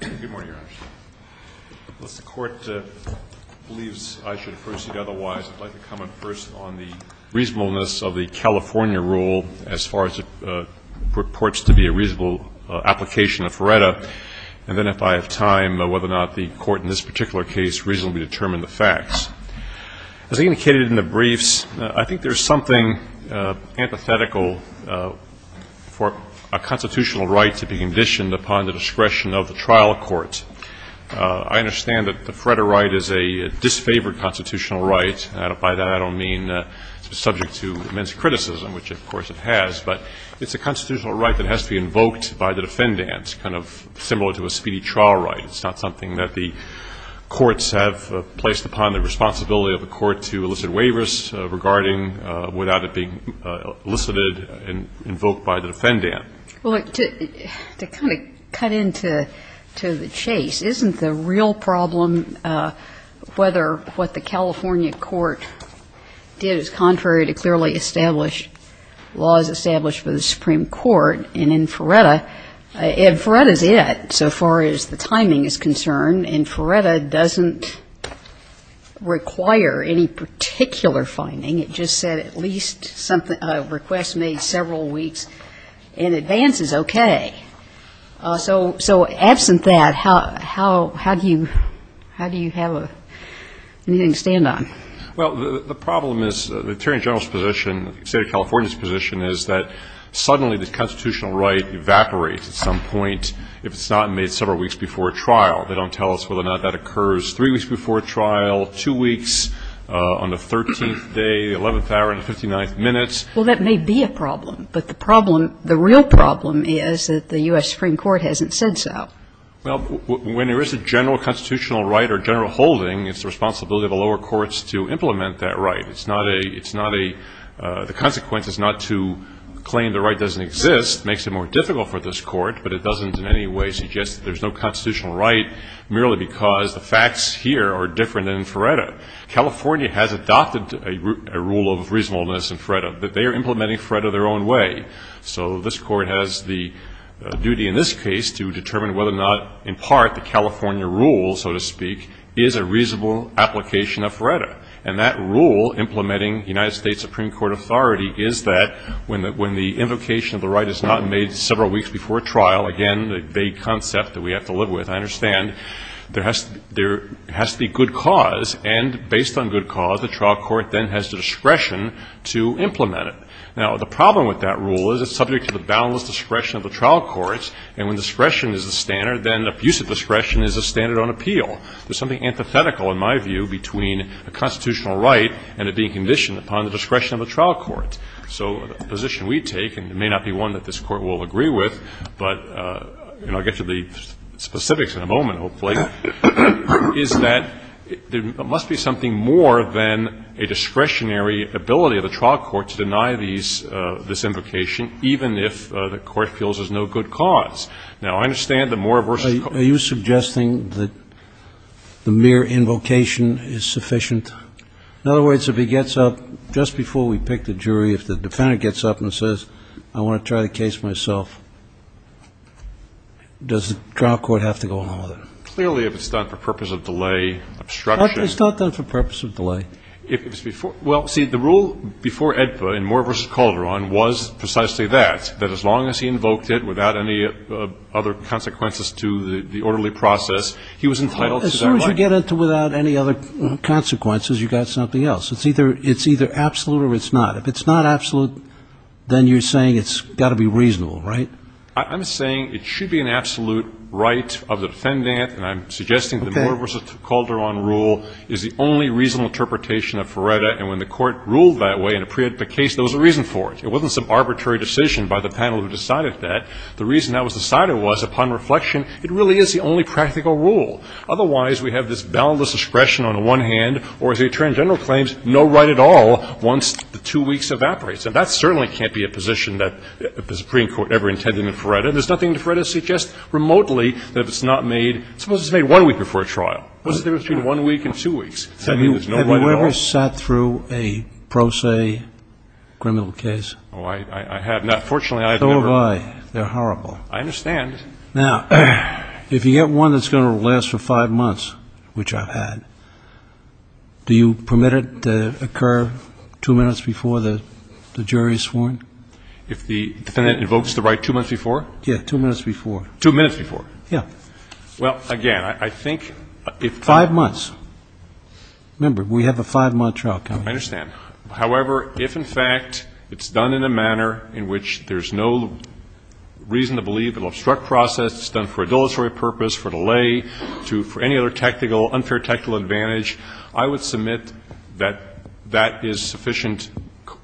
Good morning, Your Honors. Unless the Court believes I should proceed otherwise, I'd like to comment first on the reasonableness of the California rule as far as it purports to be a reasonable application of FRERETA, and then if I have time, whether or not the Court in this particular case reasonably determined the facts. As indicated in the briefs, I think there's something empathetical for a constitutional right to be conditioned upon the discretion of the trial court. I understand that the FRERETA right is a disfavored constitutional right. By that, I don't mean it's subject to immense criticism, which, of course, it has, but it's a constitutional right that has to be invoked by the defendant, kind of similar to a speedy trial right. It's not something that the courts have placed upon the responsibility of the court to elicit waivers regarding without it being elicited and invoked by the defendant. Well, to kind of cut into the chase, isn't the real problem whether what the California court did is contrary to clearly established laws established by the Supreme Court? And in FRERETA, FRERETA's it so far as the timing is concerned. And FRERETA doesn't require any particular finding. It just said at least a request made several weeks in advance is okay. So absent that, how do you have anything to stand on? Well, the problem is the Attorney General's position, the State of California's position is that suddenly the constitutional right evaporates at some point if it's not made several weeks before a trial. They don't tell us whether or not that occurs three weeks before a trial, two weeks, on the 13th day, 11th hour, and the 59th minute. Well, that may be a problem, but the problem, the real problem is that the U.S. Supreme Court hasn't said so. Well, when there is a general constitutional right or general holding, it's the responsibility of the lower courts to implement that right. It's not a, it's not a, the consequence is not to claim the right doesn't exist. It makes it more difficult for this Court, but it doesn't in any way suggest that there's no constitutional right merely because the facts here are different than in FRERETA. California has adopted a rule of reasonableness in FRERETA, but they are implementing FRERETA their own way. So this Court has the duty in this case to determine whether or not, in part, the California rule, so to speak, is a reasonable application of FRERETA. And that rule implementing United States Supreme Court authority is that when the invocation of the right is not made several weeks before a trial, again, the vague concept that we have to live with, I understand, there has to be good cause. And based on good cause, the trial court then has the discretion to implement it. Now, the problem with that rule is it's subject to the boundless discretion of the trial courts. And when discretion is a standard, then abuse of discretion is a standard on appeal. There's something antithetical, in my view, between a constitutional right and it being conditioned upon the discretion of a trial court. So the position we take, and it may not be one that this Court will agree with, but, you know, I'll get to the specifics in a moment, hopefully, is that there must be something more than a discretionary ability of a trial court to deny these – this invocation, even if the Court feels there's no good cause. Now, I understand the more versatile – Are you suggesting that the mere invocation is sufficient? In other words, if he gets up just before we pick the jury, if the defendant gets up and says, I want to try the case myself, does the trial court have to go along with it? Clearly, if it's done for purpose of delay, obstruction. It's not done for purpose of delay. If it's before – well, see, the rule before AEDPA in Moore v. Calderon was precisely that, that as long as he invoked it without any other consequences to the orderly process, he was entitled to that right. As soon as you get into without any other consequences, you've got something else. It's either absolute or it's not. If it's not absolute, then you're saying it's got to be reasonable, right? I'm saying it should be an absolute right of the defendant, and I'm suggesting that the Moore v. Calderon rule is the only reasonable interpretation of FRERETA. And when the Court ruled that way in a pre-AEDPA case, there was a reason for it. It wasn't some arbitrary decision by the panel who decided that. The reason that was decided was, upon reflection, it really is the only practical rule. Otherwise, we have this boundless discretion on the one hand, or, as the Attorney General claims, no right at all once the two weeks evaporates. And that certainly can't be a position that the Supreme Court ever intended in FRERETA. There's nothing in FRERETA that suggests remotely that it's not made – suppose it's made one week before a trial. What's the difference between one week and two weeks? I mean, there's no right at all? Have you ever sat through a pro se criminal case? Oh, I have not. Fortunately, I have never. So have I. They're horrible. I understand. Now, if you get one that's going to last for five months, which I've had, do you permit it to occur two minutes before the jury is sworn? If the defendant invokes the right two months before? Yes, two minutes before. Two minutes before? Yes. Well, again, I think if the – Five months. Remember, we have a five-month trial coming. I understand. However, if, in fact, it's done in a manner in which there's no reason to believe it will obstruct process, it's done for a dilatory purpose, for delay, for any other technical, unfair technical advantage, I would submit that that is sufficient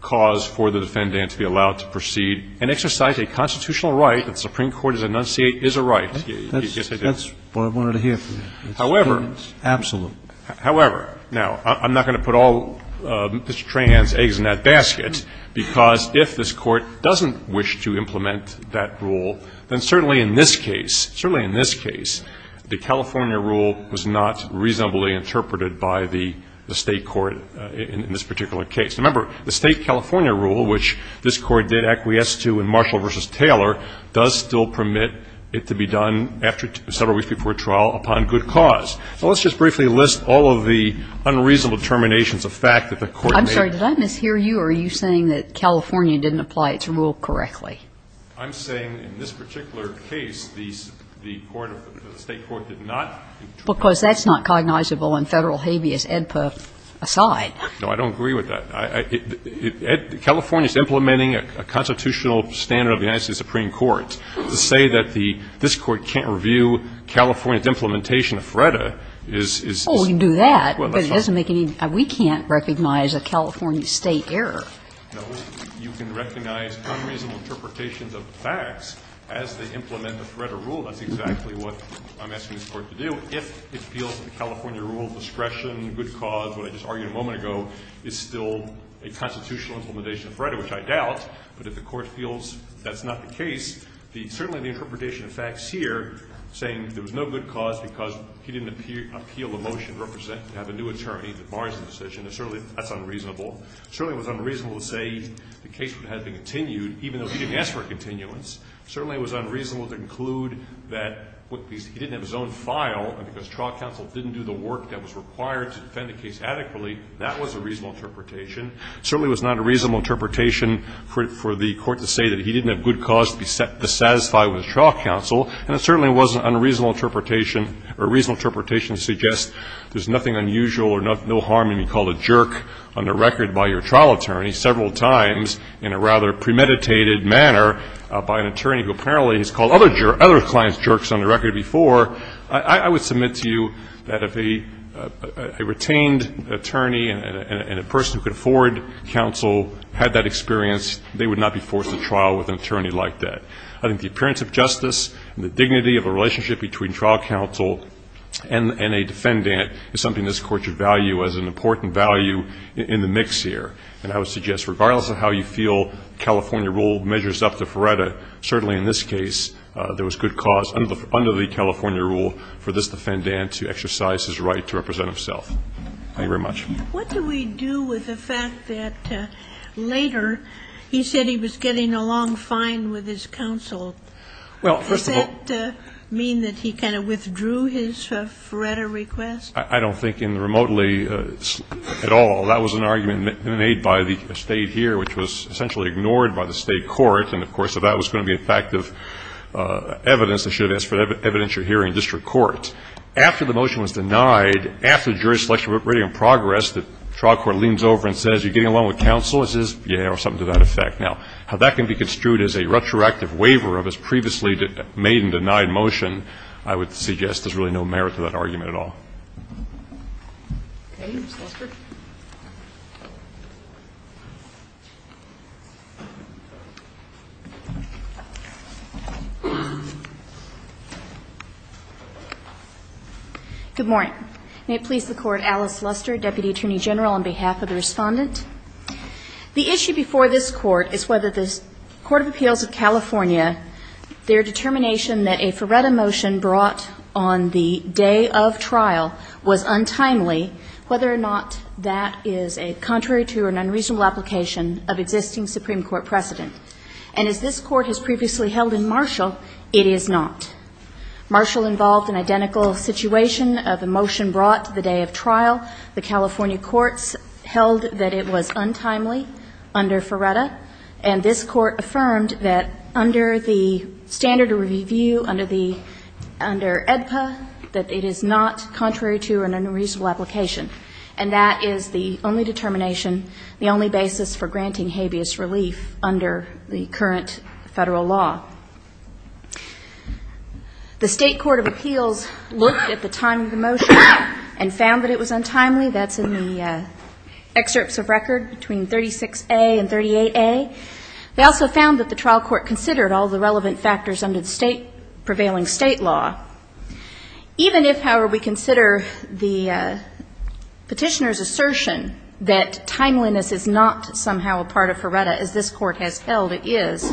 cause for the defendant to be allowed to proceed and exercise a constitutional right that the Supreme Court has enunciated is a right. Yes, it is. That's what I wanted to hear from you. However – It's absolute. However, now, I'm not going to put all Mr. Trahan's eggs in that basket, because if this Court doesn't wish to implement that rule, then certainly in this case, certainly in this case, the California rule was not reasonably interpreted by the State court in this particular case. Remember, the State California rule, which this Court did acquiesce to in Marshall v. Taylor, does still permit it to be done after several weeks before trial upon good cause. Now, let's just briefly list all of the unreasonable terminations of fact that the Court made. I'm sorry. Did I mishear you, or are you saying that California didn't apply its rule correctly? I'm saying in this particular case, the State court did not. Because that's not cognizable in Federal habeas edpa aside. No, I don't agree with that. California is implementing a constitutional standard of the United States Supreme Court. To say that the – this Court can't review California's implementation of FREDA is – Well, we can do that. But it doesn't make any – we can't recognize a California State error. No. You can recognize unreasonable interpretations of facts as they implement the FREDA rule. That's exactly what I'm asking this Court to do. If it feels that the California rule of discretion, good cause, what I just argued a moment ago, is still a constitutional implementation of FREDA, which I doubt, but if the Court feels that's not the case, the – certainly the interpretation of facts here, saying there was no good cause because he didn't appeal the motion to represent – to have a new attorney that bars the decision, is certainly – that's unreasonable. Certainly it was unreasonable to say the case would have been continued, even though he didn't ask for a continuance. Certainly it was unreasonable to conclude that he didn't have his own file, and because that was a reasonable interpretation. Certainly it was not a reasonable interpretation for the Court to say that he didn't have good cause to satisfy with the trial counsel, and it certainly wasn't unreasonable interpretation – or reasonable interpretation to suggest there's nothing unusual or no harm in being called a jerk on the record by your trial attorney several times in a rather premeditated manner by an attorney who apparently has called other – other clients jerks on the record before. I would submit to you that if a retained attorney and a person who could afford counsel had that experience, they would not be forced to trial with an attorney like that. I think the appearance of justice and the dignity of the relationship between trial counsel and a defendant is something this Court should value as an important value in the mix here. And I would suggest regardless of how you feel California rule measures up to FREDA, certainly in this case there was good cause under the California rule for this defendant to exercise his right to represent himself. Thank you very much. What do we do with the fact that later he said he was getting along fine with his counsel? Well, first of all – Does that mean that he kind of withdrew his FREDA request? I don't think in the remotely at all. That was an argument made by the State here, which was essentially ignored by the State court. And, of course, if that was going to be a fact of evidence, they should have asked for evidence you're hearing in district court. After the motion was denied, after jury selection was already in progress, the trial court leans over and says, you're getting along with counsel? It says, yeah, or something to that effect. Now, how that can be construed as a retroactive waiver of his previously made and denied motion, I would suggest there's really no merit to that argument at all. Okay. Ms. Luster. Good morning. May it please the Court, Alice Luster, Deputy Attorney General, on behalf of the Respondent. The issue before this Court is whether the Court of Appeals of California, their determination that a FREDA motion brought on the day of trial was untimely, whether or not that is a contrary to or an unreasonable application of existing Supreme Court precedent. And as this Court has previously held in Marshall, it is not. Marshall involved an identical situation of a motion brought the day of trial. The California courts held that it was untimely under FREDA. And this Court affirmed that under the standard review, under the EDPA, that it is not contrary to an unreasonable application. And that is the only determination, the only basis for granting habeas relief under the current Federal law. The State Court of Appeals looked at the timing of the motion and found that it was untimely. That's in the excerpts of record between 36A and 38A. They also found that the trial court considered all the relevant factors under the State, prevailing State law. Even if, however, we consider the Petitioner's assertion that timeliness is not somehow a part of FREDA, as this Court has held it is,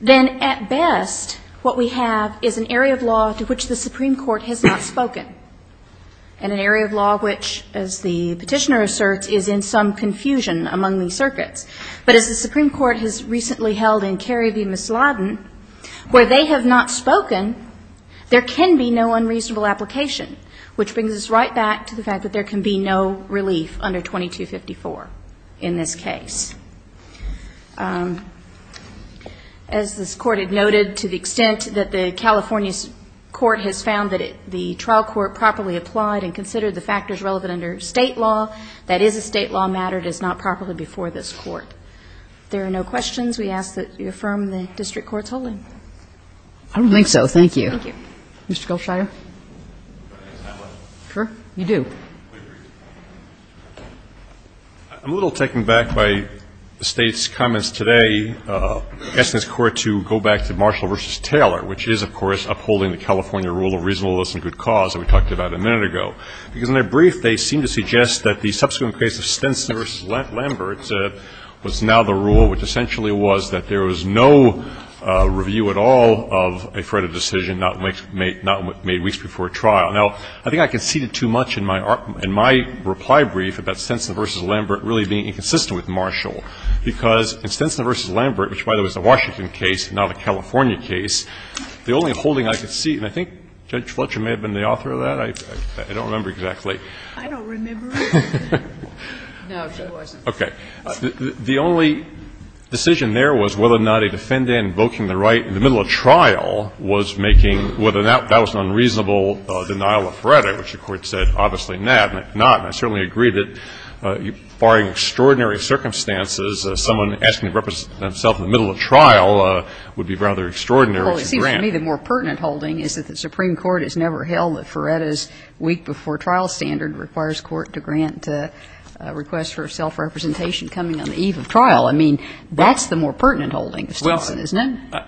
then at best what we have is an area of law to which the Supreme Court has not spoken. And an area of law which, as the Petitioner asserts, is in some confusion among these circuits. But as the Supreme Court has recently held in Kerry v. Misladen, where they have not spoken, there can be no unreasonable application, which brings us right back to the fact that there can be no relief under 2254 in this case. As this Court had noted, to the extent that the California court has found that the trial court properly applied and considered the factors relevant under State law, that is a State law matter, it is not properly before this Court. If there are no questions, we ask that you affirm the district court's holding. Kagan. I don't think so. Thank you. Thank you. Mr. Goldstein. Can I ask a final question? Sure. You do. I'm a little taken aback by the State's comments today, asking this Court to go back to Marshall v. Taylor, which is, of course, upholding the California rule of reasonableness and good cause that we talked about a minute ago. Because in their brief, they seem to suggest that the subsequent case of Stinson v. Lambert was now the rule which essentially was that there was no review at all of a fretted decision not made weeks before a trial. Now, I think I conceded too much in my reply brief about Stinson v. Lambert really being inconsistent with Marshall, because in Stinson v. Lambert, which, by the way, was a Washington case, not a California case. The only holding I could see, and I think Judge Fletcher may have been the author of that. I don't remember exactly. I don't remember. No, she wasn't. Okay. The only decision there was whether or not a defendant invoking the right in the middle of trial was making whether or not that was an unreasonable denial of fretted, which the Court said obviously not. And I certainly agree that, barring extraordinary circumstances, someone asking to represent himself in the middle of trial would be rather extraordinary to grant. Well, it seems to me the more pertinent holding is that the Supreme Court has never held that Fretta's week-before-trial standard requires court to grant a request for self-representation coming on the eve of trial. I mean, that's the more pertinent holding of Stinson, isn't it? Well,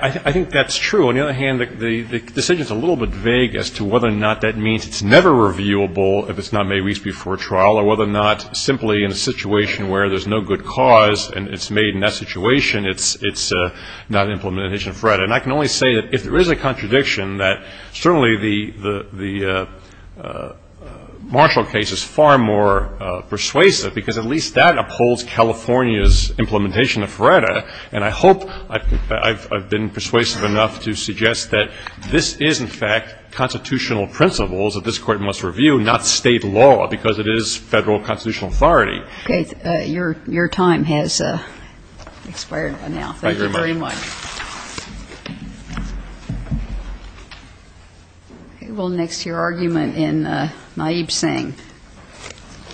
I think that's true. On the other hand, the decision is a little bit vague as to whether or not that means it's never reviewable if it's not made weeks before a trial, or whether or not simply in a situation where there's no good cause and it's made in that situation, it's not an implementation of Fretta. And I can only say that if there is a contradiction, that certainly the Marshall case is far more persuasive, because at least that upholds California's implementation of Fretta. And I hope I've been persuasive enough to suggest that this is, in fact, constitutional principles that this Court must review, not State law, because it is Federal constitutional authority. Okay. Your time has expired by now. Thank you very much. Thank you very much. Okay. Well, next, your argument in Naib Singh.